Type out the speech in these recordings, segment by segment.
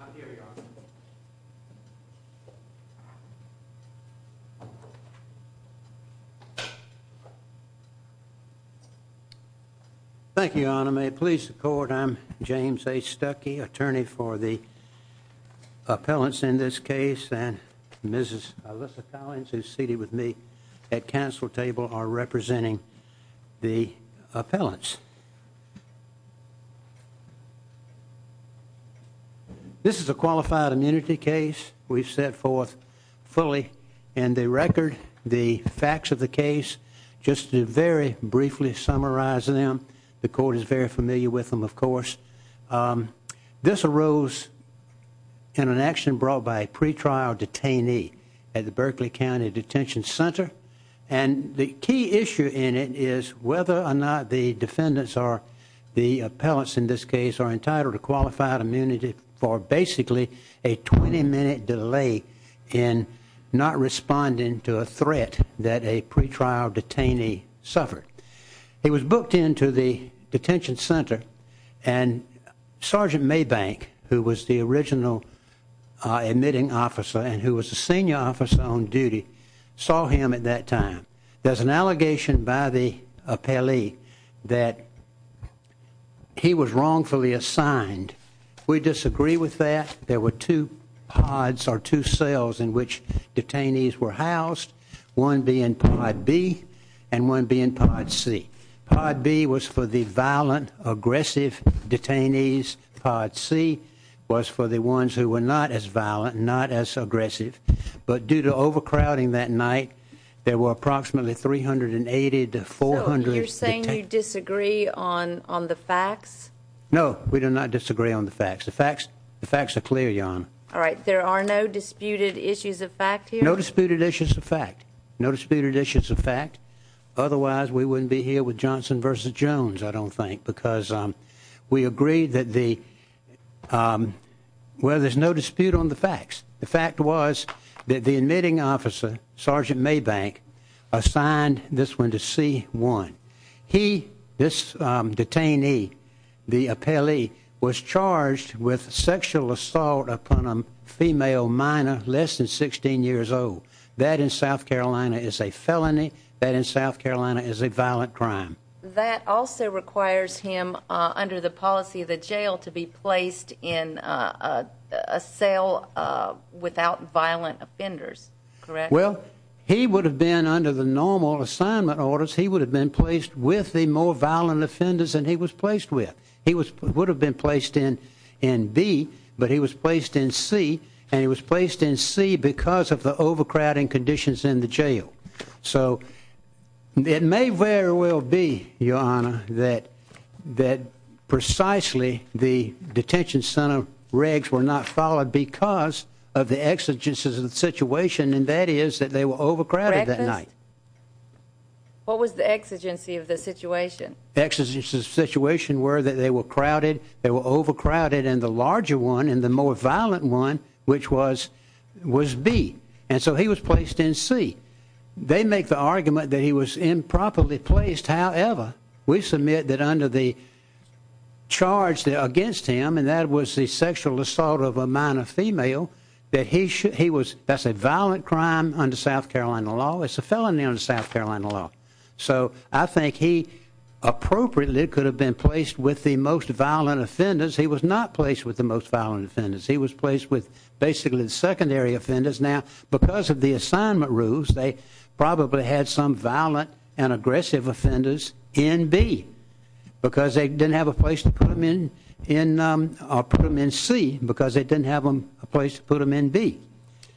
I'm here, Your Honor. Thank you, Your Honor. May it please the court, I'm James A. Stuckey, attorney for the appellants in this case, and Mrs. Alyssa Collins, who's seated with me at council table, are representing the appellants. This is a qualified immunity case we've set forth fully in the record. The facts of the case, just to very briefly summarize them, the court is very familiar with them, of course. This arose in an action brought by a pretrial detainee at the Berkeley County Detention Center, and the key issue in it is whether or not the defendants, or the appellants in this case, are entitled to qualified immunity for basically a 20-minute delay in not responding to a threat that a pretrial detainee suffered. He was booked into the detention center, and Sergeant Maybank, who was the original admitting officer and who was a senior officer on duty, saw him at that time. There's an allegation by the appellee that he was wrongfully assigned. We disagree with that. There were two pods, or two cells, in which detainees were housed, one being pod B and one being pod C. Pod B was for the violent, aggressive detainees. Pod C was for the ones who were not as aggressive. So you're saying you disagree on the facts? No, we do not disagree on the facts. The facts are clear, Your Honor. All right. There are no disputed issues of fact here? No disputed issues of fact. No disputed issues of fact. Otherwise, we wouldn't be here with Johnson v. Jones, I don't think, because we agree that the, well, there's no dispute on the facts. The fact was that the admitting officer, Sergeant Maybank, assigned this one to C-1. He, this detainee, the appellee, was charged with sexual assault upon a female minor less than 16 years old. That, in South Carolina, is a felony. That, in South Carolina, is a violent crime. That also requires him, under the policy of the jail, to be placed in a cell without violent offenders, correct? Well, he would have been, under the normal assignment orders, he would have been placed with the more violent offenders than he was placed with. He would have been placed in B, but he was placed in C, and he was placed in C because of the overcrowding conditions in the jail. So, it may very well be, Your Honor, that, that precisely the detention center regs were not followed because of the exigencies of the situation, and that is that they were overcrowded that night. What was the exigency of the situation? The exigencies of the situation were that they were crowded, they were overcrowded, and the larger one, and the more violent one, which was, was B, and so he was placed in C. They make the argument that he was improperly placed. However, we submit that under the charge against him, and that was the sexual assault of a minor female, that he should, he was, that's a violent crime under South Carolina law. It's a felony under South Carolina law. So, I think he appropriately could have been placed with the most violent offenders. He was not placed with the most violent offenders. He was placed with basically the secondary offenders. Now, because of the assignment rules, they probably had some violent and aggressive offenders in B because they didn't have a place to put them in, in, or put them in C because they didn't have a place to put them in B.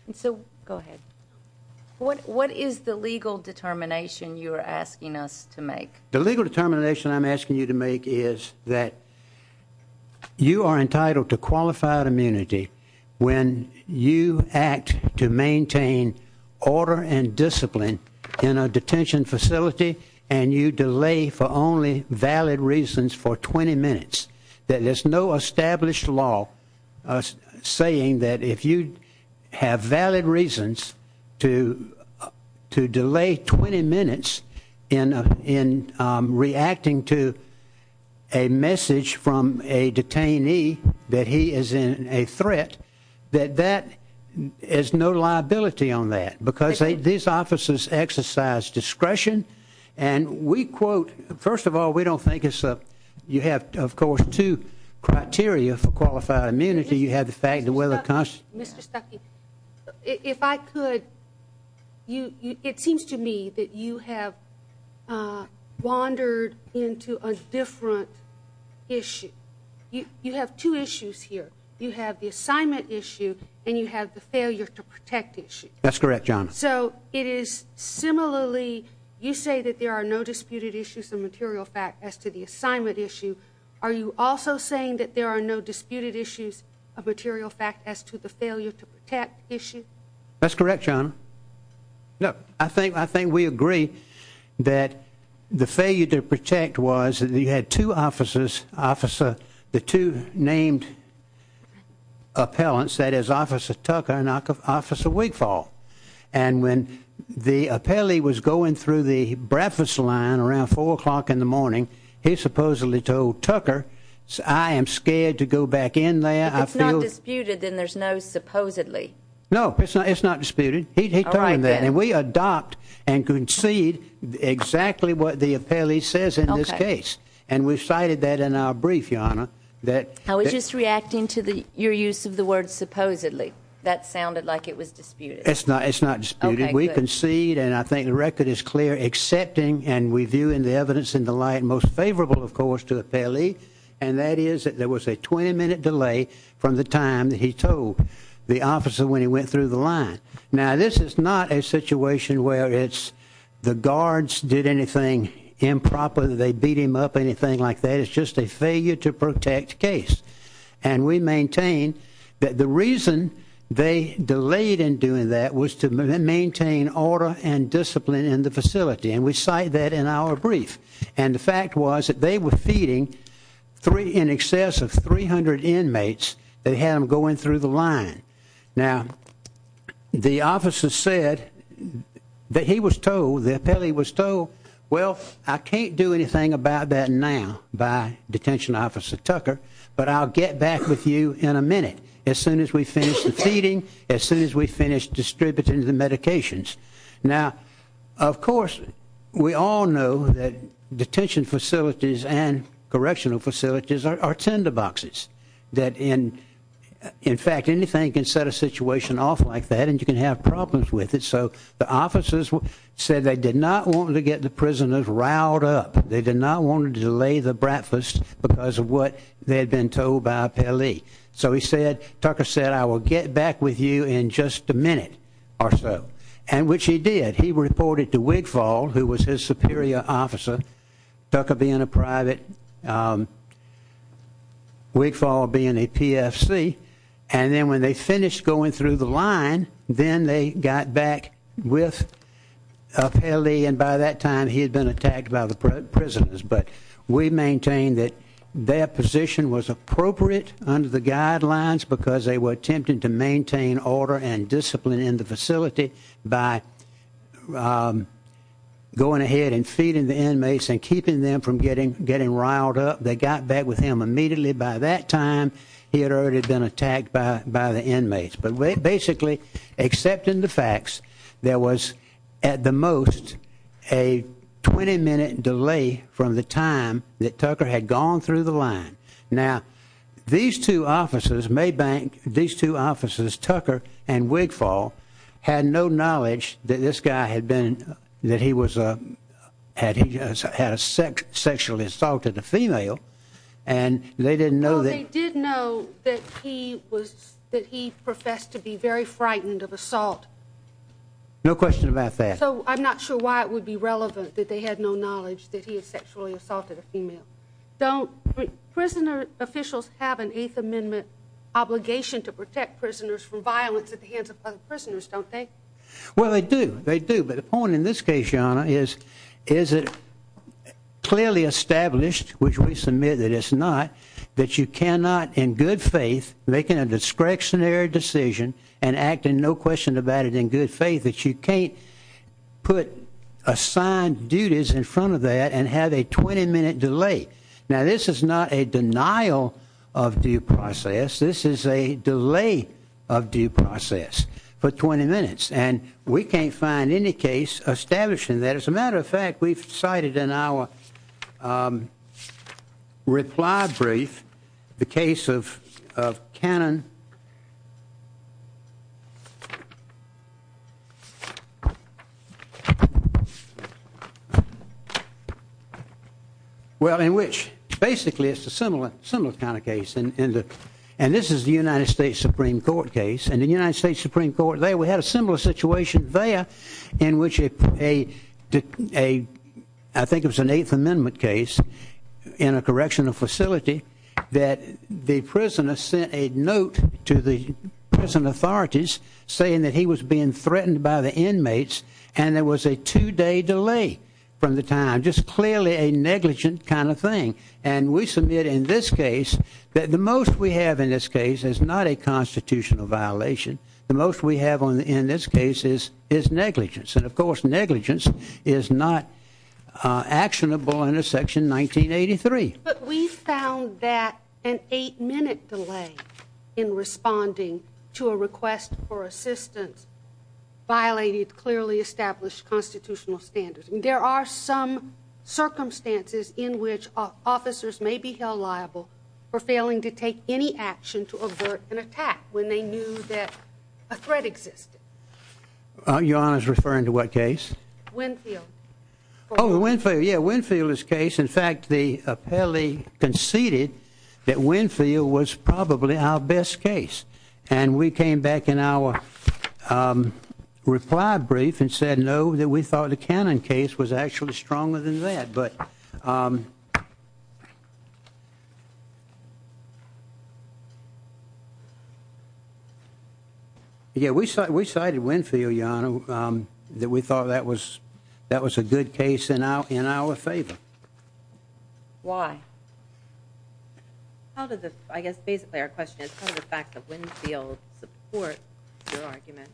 And so, go ahead. What, what is the legal determination you're asking us to make? The legal determination I'm asking you to make is that you are entitled to qualified immunity when you act to maintain order and discipline in a detention facility, and you delay for only valid reasons for 20 minutes. That there's no established law saying that if you have valid reasons to, to delay 20 minutes in, in reacting to a message from a detainee that he is in a threat, that that is no liability on that because these offices exercise discretion. And we quote, first of all, we don't think it's a, you have, of course, two criteria for qualified immunity. You have the fact that we're the Mr. Stuckey, if I could, you, you, it seems to me that you have, uh, wandered into a different issue. You, you have two issues here. You have the assignment issue and you have the failure to protect issue. That's correct, John. So it is similarly, you say that there are no disputed issues of material fact as to the assignment issue. Are you also saying that there are no the failure to protect issue? That's correct, John. Look, I think, I think we agree that the failure to protect was that you had two officers, officer, the two named appellants, that is Officer Tucker and Officer Wigfall. And when the appellee was going through the breakfast line around four o'clock in the morning, he supposedly told Tucker, I am scared to go back in there. If it's not disputed, then there's no supposedly. No, it's not. It's not disputed. He told him that. And we adopt and concede exactly what the appellee says in this case. And we've cited that in our brief, Your Honor, that. I was just reacting to the, your use of the word supposedly. That sounded like it was disputed. It's not, it's not disputed. We concede and I think the record is clear, accepting and we view in the evidence in the light most favorable, of course, to appellee. And that is that there was a 20 minute delay from the time that he told the officer when he went through the line. Now, this is not a situation where it's the guards did anything improper. They beat him up. Anything like that is just a failure to protect case. And we maintain that the reason they delayed in doing that was to maintain order and discipline in the facility. And we cite that in our brief. And the fact was that they were feeding three in excess of 300 inmates that had him going through the line. Now, the officer said that he was told the appellee was toe. Well, I can't do anything about that now by detention officer Tucker. But I'll get back with you in a minute. As soon as we finish the feeding, as soon as we finish distributing the medications. Now, of course, we all know that detention facilities and correctional facilities are tender boxes that in in fact, anything can set a situation off like that and you can have problems with it. So the officers said they did not want to get the prisoners riled up. They did not want to delay the breakfast because of what they had been told by Pele. So he said, Tucker said, I will get back with you in just a minute or so. And which he did. He reported to Wigfall, who was his superior officer, Tucker being a private, um Wigfall being a PFC. And then when they finished going through the line, then they got back with Pele. And by that time he had been attacked by the prisoners. But we maintain that their position was appropriate under the guidelines because they were attempting to maintain order and discipline in the facility by going ahead and feeding the inmates and keeping them from getting getting riled up. They got back with him immediately. By that time, he had already been attacked by by the inmates. But that Tucker had gone through the line. Now, these two officers, Maybank, these two officers, Tucker and Wigfall had no knowledge that this guy had been that he was, uh, had had a sex sexually assaulted a female and they didn't know. They did know that he was that he professed to be very frightened of assault. No question about that. So I'm not sure why it would be relevant that they had no knowledge that he had sexually assaulted a female. Don't prisoner officials have an Eighth Amendment obligation to protect prisoners from violence at the hands of other prisoners, don't they? Well, they do. They do. But the point in this case, John, is is it clearly established, which we submit that it's not that you cannot in good faith, making a discretionary decision and acting no question about it in good faith that you can't put assigned duties in front of that and have a 20 minute delay. Now, this is not a denial of due process. This is a delay of due process for 20 minutes, and we can't find any case establishing that. As a matter of fact, we've cited in our, um, reply brief the case of of cannon. Okay. Well, in which basically it's a similar similar kind of case in the and this is the United States Supreme Court case and the United States Supreme Court. They had a similar situation there in which a a I think it was an Eighth Amendment case in a correctional facility that the prisoner sent a note to the prison authorities saying that he was being threatened by the inmates, and there was a two day delay from the time just clearly a negligent kind of thing. And we submit in this case that the most we have in this case is not a constitutional violation. The most we have on in this case is is negligence. And, of course, negligence is not actionable in a section 1983. But we found that an eight minute delay in responding to a request for assistance violated clearly established constitutional standards. And there are some circumstances in which officers may be held liable for failing to take any action to avert an attack when they knew that a threat existed. Your Honor is referring to what case over Winfield? Yeah, Winfield is case. In fact, the appellee conceded that Winfield was probably our best case, and we came back in our, um, reply brief and said no, that we thought the cannon case was actually stronger than that. But, um, yeah, we said we cited Winfield, your Honor, that we thought that was that was a good case in our favor. Why? How did the I guess basically our question is part of the fact that Winfield support your argument?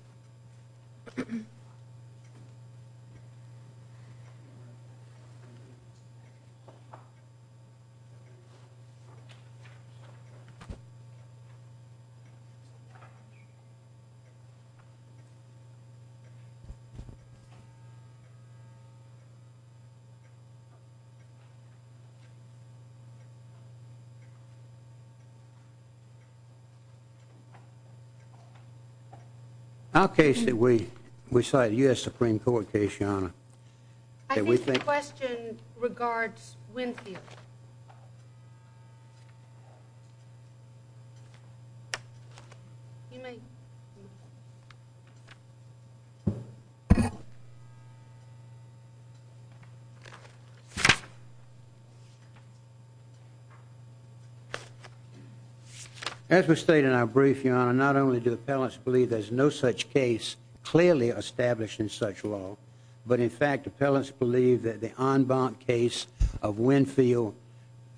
Okay, so we we saw a U. S. Supreme Court case, your Honor. I think the question regards Winfield. Yeah. You may. As we state in our brief, your Honor, not only do appellants believe there's no such case clearly established in such law, but in fact, appellants believe that the en banc case of Winfield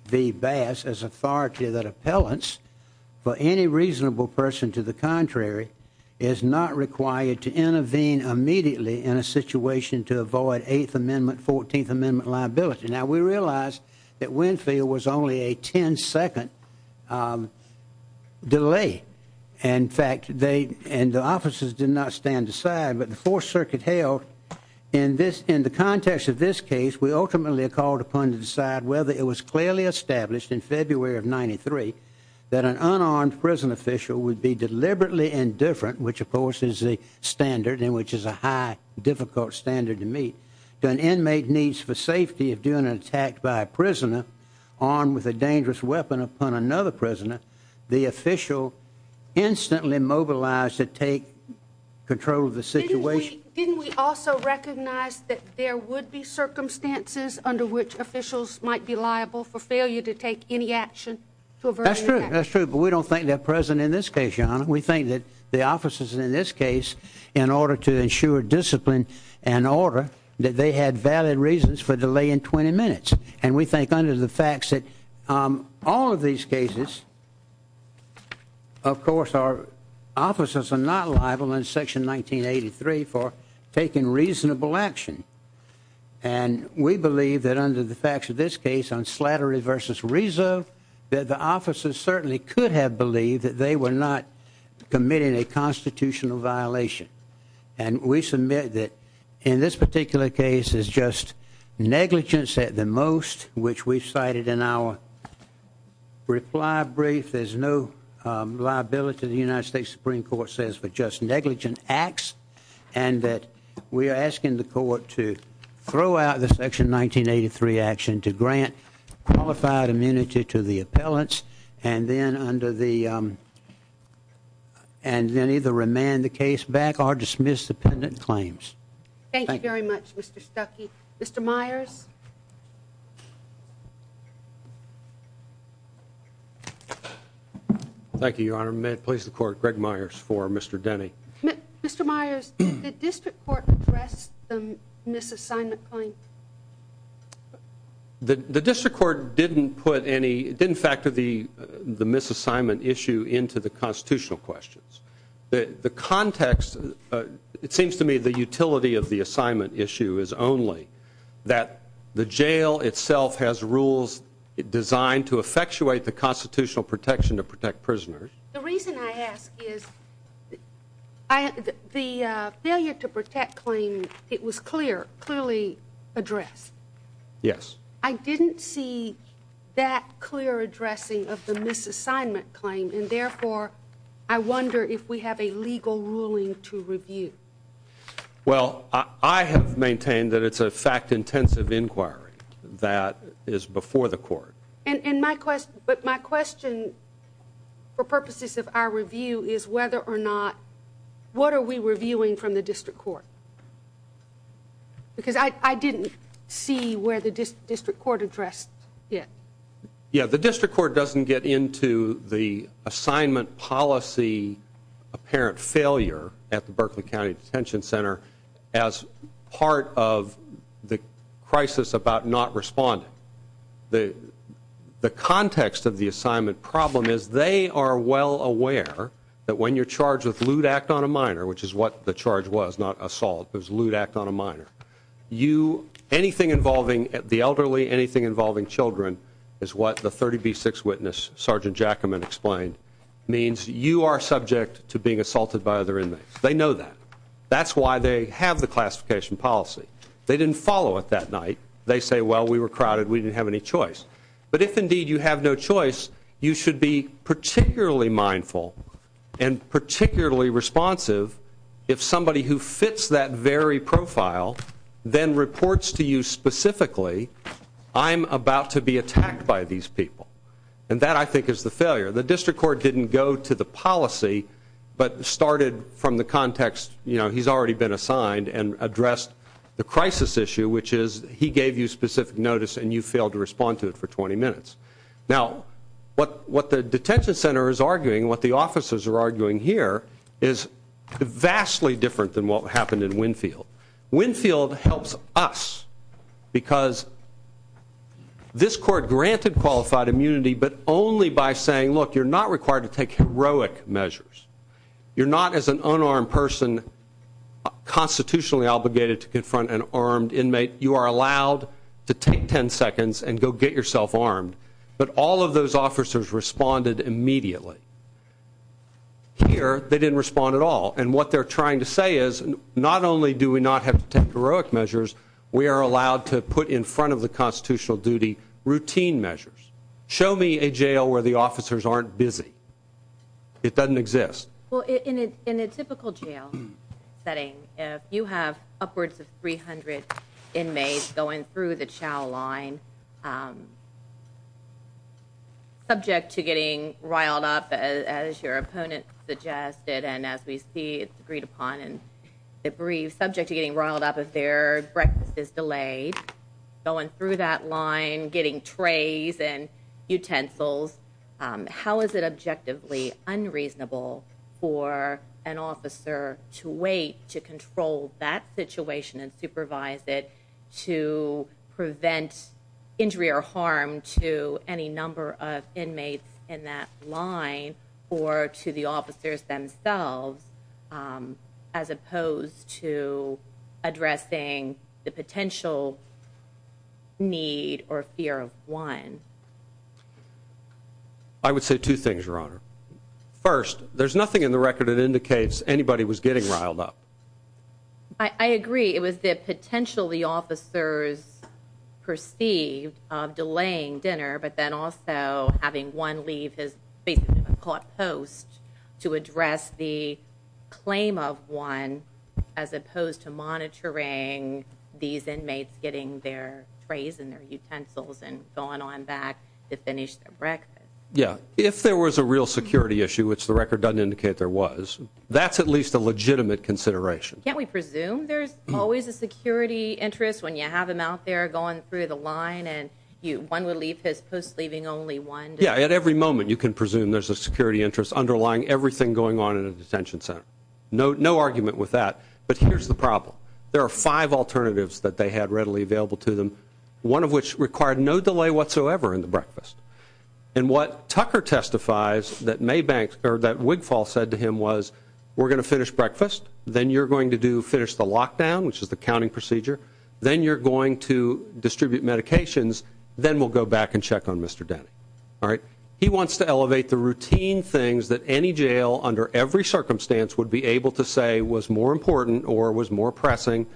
v Bass as authority that appellants for any reasonable person to the contrary is not required to intervene immediately in a situation to avoid Eighth Amendment, 14th Amendment liability. Now we realized that Winfield was only a 10 second, um, delay. In fact, they and the officers did not stand aside. But the Fourth Circuit held in this in the context of this case, we ultimately called upon to decide whether it was clearly established in February of 93 that an unarmed prison official would be deliberately indifferent, which, of course, is a standard in which is a high, difficult standard to meet an inmate needs for safety of doing an attack by a prisoner armed with a dangerous weapon upon another prisoner. The official instantly mobilized to take control of the didn't. We also recognize that there would be circumstances under which officials might be liable for failure to take any action. That's true. That's true. But we don't think they're present in this case, Your Honor. We think that the officers in this case, in order to ensure discipline and order that they had valid reasons for delay in 20 minutes. And we think under the three for taking reasonable action. And we believe that under the facts of this case on slattery versus reason that the officers certainly could have believed that they were not committing a constitutional violation. And we submit that in this particular case is just negligence at the most, which we've cited in our reply brief. There's no liability. The United States Supreme Court says for just negligent acts and that we're asking the court to throw out the section 1983 action to grant qualified immunity to the appellants and then under the and then either remand the case back or dismiss dependent claims. Thank you very much, Mr Stuckey. Mr Myers. Thank you, Your Honor. May it please the court. Greg Myers for Mr Denny. Mr Myers. The district court address the misassignment claim. The district court didn't put any didn't factor the misassignment issue into the constitutional questions. The context. It seems to me the jail itself has rules designed to effectuate the constitutional protection to protect prisoners. The reason I ask is the failure to protect claim. It was clear, clearly address. Yes, I didn't see that clear addressing of the misassignment claim. And therefore, I wonder if we have a legal ruling to review. Well, I have maintained that it's a fact intensive inquiry that is before the court. And my question, but my question for purposes of our review is whether or not what are we reviewing from the district court? Because I didn't see where the district court address yet. Yeah, the district court doesn't get into the assignment policy apparent failure at the Berkeley County Detention Center as part of the crisis about not responding. The context of the assignment problem is they are well aware that when you're charged with lewd act on a minor, which is what the charge was not assault, there's lewd act on a minor. You anything involving the elderly, anything involving children is what the 30 B six witness Sergeant Jackman explained means you are subject to being assaulted by other inmates. They know that. That's why they have the classification policy. They didn't follow it that night. They say, well, we were crowded. We didn't have any choice. But if indeed you have no choice, you should be particularly mindful and particularly responsive. If somebody who fits that very profile then reports to you specifically, I'm about to be attacked by these people. And that I think is the failure. The district court didn't go to the crisis issue, which is he gave you specific notice and you failed to respond to it for 20 minutes. Now, what the detention center is arguing, what the officers are arguing here is vastly different than what happened in Winfield. Winfield helps us because this court granted qualified immunity, but only by saying, look, you're not required to take heroic measures. You're not as an unarmed person constitutionally obligated to confront an armed inmate. You are allowed to take 10 seconds and go get yourself armed. But all of those officers responded immediately here. They didn't respond at all. And what they're trying to say is not only do we not have to take heroic measures, we are allowed to put in front of the constitutional duty routine measures. Show me a jail where the officers aren't busy. It doesn't exist. Well, in a typical jail setting, if you have upwards of 300 inmates going through the chow line. Subject to getting riled up as your opponent suggested, and as we see, it's agreed upon and debrief subject to getting riled up if their breakfast is delayed, going through that line, getting trays and utensils. How is it objectively unreasonable for an officer to wait to control that situation and supervise it to prevent injury or harm to any number of inmates in that line or to the officers themselves, as opposed to addressing the potential need or fear of one? I would say two things, Your Honor. First, there's nothing in the record that indicates anybody was getting riled up. I agree. It was the potential the officers perceived of delaying dinner, but then also having one leave his caught post to address the claim of one as opposed to monitoring these inmates getting their trays and their utensils and going on back to finish their breakfast. Yeah. If there was a real security issue, which the record doesn't indicate there was, that's at least a legitimate consideration. Can't we presume there's always a security interest when you have them out there going through the line and one would leave his post only one? Yeah. At every moment you can presume there's a security interest underlying everything going on in a detention center. No argument with that. But here's the problem. There are five alternatives that they had readily available to them, one of which required no delay whatsoever in the breakfast. And what Tucker testifies that Maybank or that Wigfall said to him was, we're going to finish breakfast, then you're going to finish the lockdown, which is the counting procedure, then you're going to distribute medications, then we'll go back and check on Mr. Denny. All right. He wants to elevate the routine things that any jail under every circumstance would be able to say was more important or was more pressing.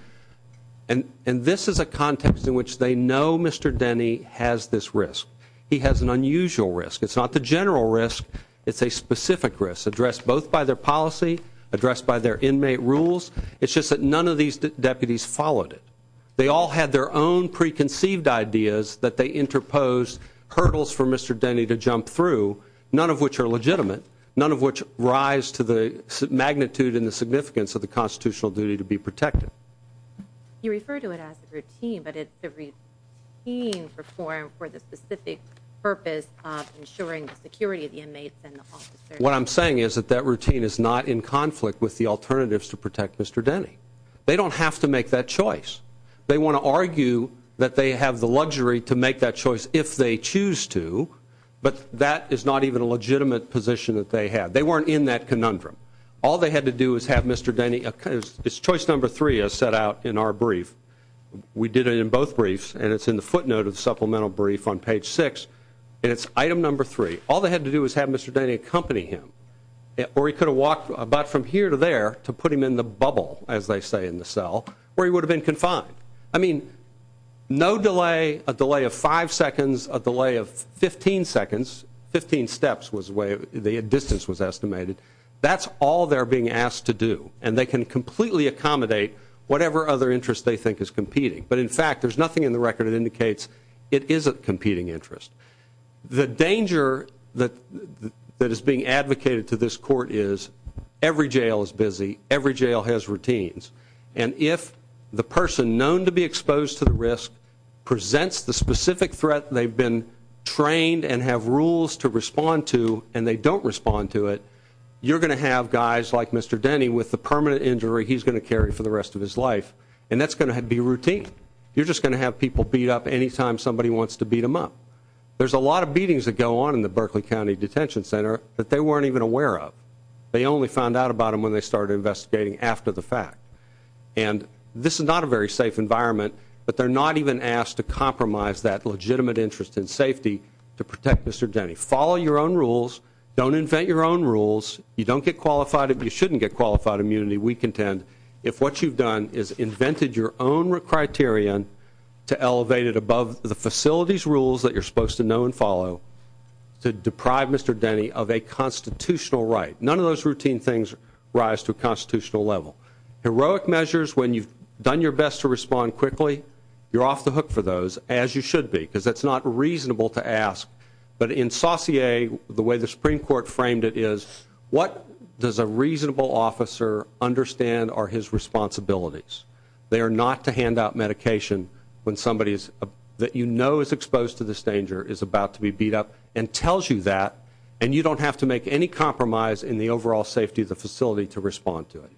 And this is a context in which they know Mr. Denny has this risk. He has an unusual risk. It's not the general risk. It's a specific risk addressed both by their policy, addressed by their inmate rules. It's just that none of these deputies followed it. They all had their own preconceived ideas that they interposed hurdles for Mr. Denny to jump through, none of which are legitimate, none of which rise to the magnitude and the significance of the constitutional duty to be protected. You refer to it as a routine, but it's the team perform for the specific purpose of ensuring the security of the inmates. What I'm saying is that that routine is not in conflict with the alternatives to protect Mr. Denny. They don't have to make that choice. They want to argue that they have the luxury to make that choice if they choose to, but that is not even a legitimate position that they have. They weren't in that conundrum. All they had to do is have Mr. Denny, it's choice number three as set out in our brief. We did it in both briefs, and it's in the footnote of the supplemental brief on page six, and it's item number three. All they had to do is have Mr. Denny accompany him, or he could have walked about from here to there to put him in the bubble, as they say in the cell, where he would have been confined. I mean, no delay, a delay of five seconds, a delay of 15 seconds, 15 steps was the way the distance was estimated. That's all they're being asked to do, and they can completely accommodate whatever other interest they think is competing. But in fact, there's nothing in the record that indicates it isn't competing interest. The danger that is being advocated to this court is every jail is busy, every jail has routines, and if the person known to be exposed to the risk presents the specific threat they've been trained and have rules to respond to, and they don't respond to it, you're going to have guys like Mr. Denny with the permanent injury he's going to carry for the rest of his life, and that's going to be routine. You're just going to have people beat up anytime somebody wants to beat them up. There's a lot of beatings that go on in the Berkeley County Detention Center that they weren't even aware of. They only found out about them when they started investigating after the fact. And this is not a very safe environment, but they're not even asked to compromise that legitimate interest in safety to protect Mr. Denny. Follow your own rules, don't invent your own rules, you don't get qualified, you shouldn't get qualified immunity, we contend, if what you've is invented your own criterion to elevate it above the facility's rules that you're supposed to know and follow to deprive Mr. Denny of a constitutional right. None of those routine things rise to a constitutional level. Heroic measures, when you've done your best to respond quickly, you're off the hook for those, as you should be, because that's not reasonable to ask. But in Saussure, the way the Supreme Court framed it is, what does a reasonable officer understand are his responsibilities? They are not to hand out medication when somebody that you know is exposed to this danger is about to be beat up and tells you that, and you don't have to make any compromise in the overall safety of the facility to respond to it.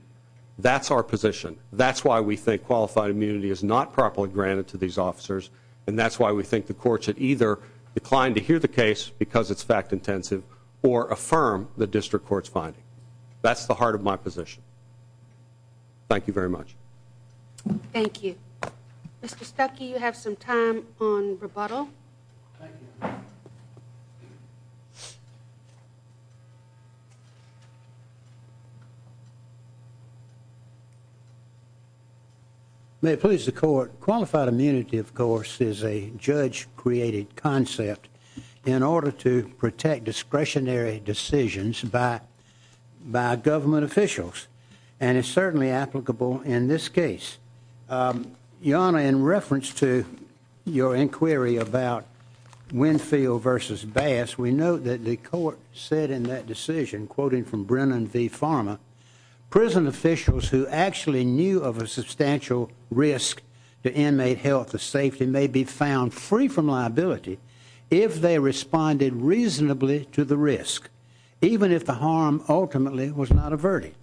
That's our position. That's why we think qualified immunity is not properly granted to these officers, and that's why we think the court should either decline to hear the case, because it's fact-intensive, or affirm the district court's finding. That's the heart of my position. Thank you very much. Thank you. Mr. Stuckey, you have some time on rebuttal. May it please the court, qualified immunity, of course, is a judge-created concept. In order to protect discretionary decisions by government officials, and it's certainly applicable in this case. Your Honor, in reference to your inquiry about Winfield v. Bass, we note that the court said in that decision, quoting from Brennan v. Farmer, prison officials who actually knew of a substantial risk to inmate health or safety may be found free from liability if they responded reasonably to the risk, even if the harm ultimately was not averted.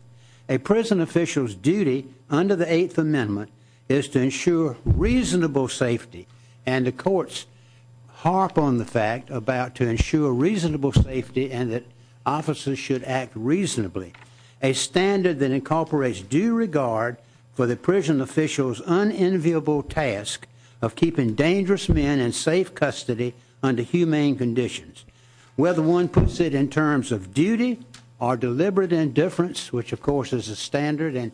A prison official's duty under the Eighth Amendment is to ensure reasonable safety, and the courts harp on the fact about to ensure reasonable safety and that officers should act reasonably, a standard that incorporates due regard for the prison official's unenviable task of keeping dangerous men in safe custody under humane conditions. Whether one puts it in terms of duty or deliberate indifference, which of course is a standard,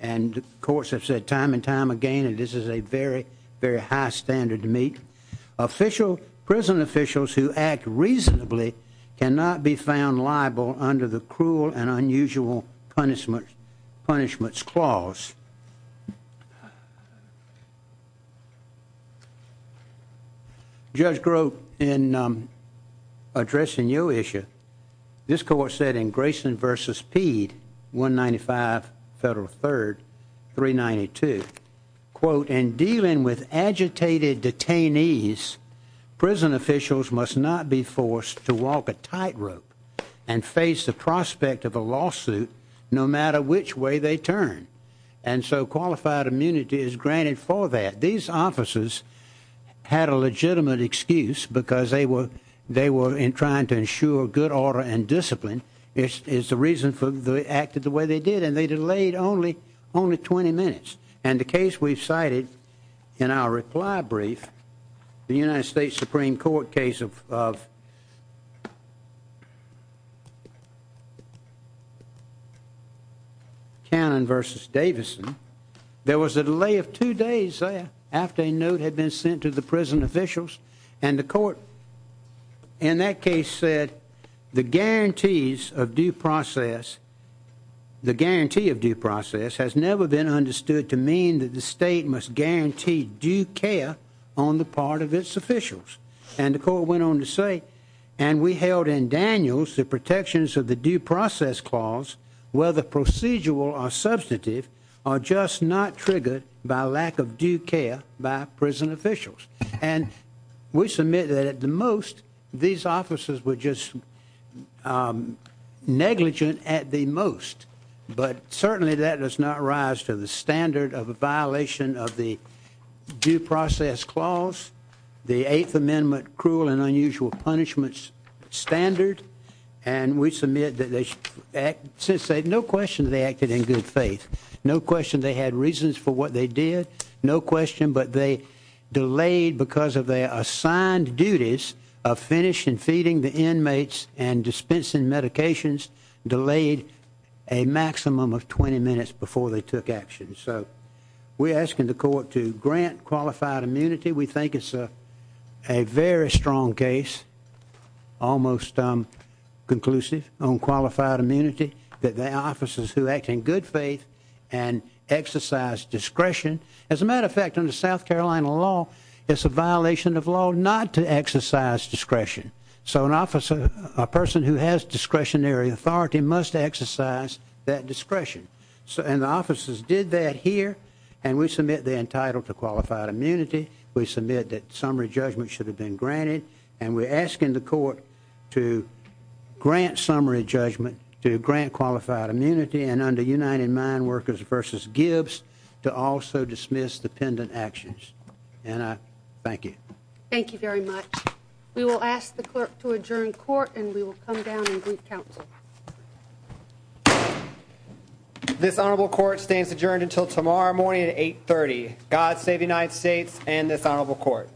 and courts have said time and time again, and this is a very, very high standard to meet. Prison officials who act reasonably cannot be found liable under the Eighth Amendment. Addressing your issue, this court said in Grayson v. Peed, 195 Federal 3rd, 392, quote, in dealing with agitated detainees, prison officials must not be forced to walk a tightrope and face the prospect of a lawsuit no matter which way they turn, and so qualified immunity is granted for that. These officers had a legitimate excuse because they were trying to ensure good order and discipline is the reason for the act of the way they did, and they delayed only 20 minutes. And the case we've cited in our reply brief, the United States Supreme Court case of Cannon v. Davison, there was a delay of two days there after a note had been sent to the prison officials, and the court in that case said the guarantees of due process, the guarantee of due process, has never been understood to mean that the state must guarantee due care on the part of its officials. And the court went on to say, and we held in Daniels, the protections of the due process clause, whether procedural or substantive, are just not triggered by lack of due care by prison officials. And we submit that at the most, these officers were just negligent at the most, but certainly that does not rise to the standard of a violation of the due process clause, the Eighth Amendment cruel and unusual punishments standard, and we submit that they, since they, no question they acted in good faith, no question they had reasons for what they did, no question, but they delayed because of their assigned duties of finishing feeding the inmates and dispensing medications, delayed a maximum of 20 minutes before they took action. So we're asking the court to grant qualified immunity. We think it's a very strong case, almost conclusive on qualified immunity, that they are officers who act in good faith and exercise discretion. As a matter of fact, under South Carolina law, it's a violation of law not to exercise discretion. So an officer, a person who has discretionary authority must exercise that discretion. And the officers did that here, and we submit they're entitled to qualified immunity. We submit that summary judgment should have been granted, and we're asking the court to grant summary judgment, to grant qualified immunity, and under United Mine Workers v. Gibbs to also dismiss dependent actions. And I thank you. Thank you very much. We will ask the clerk to adjourn court, and we will come down and brief counsel. This honorable court stands adjourned until tomorrow morning at 8 30. God save the United States and this honorable court.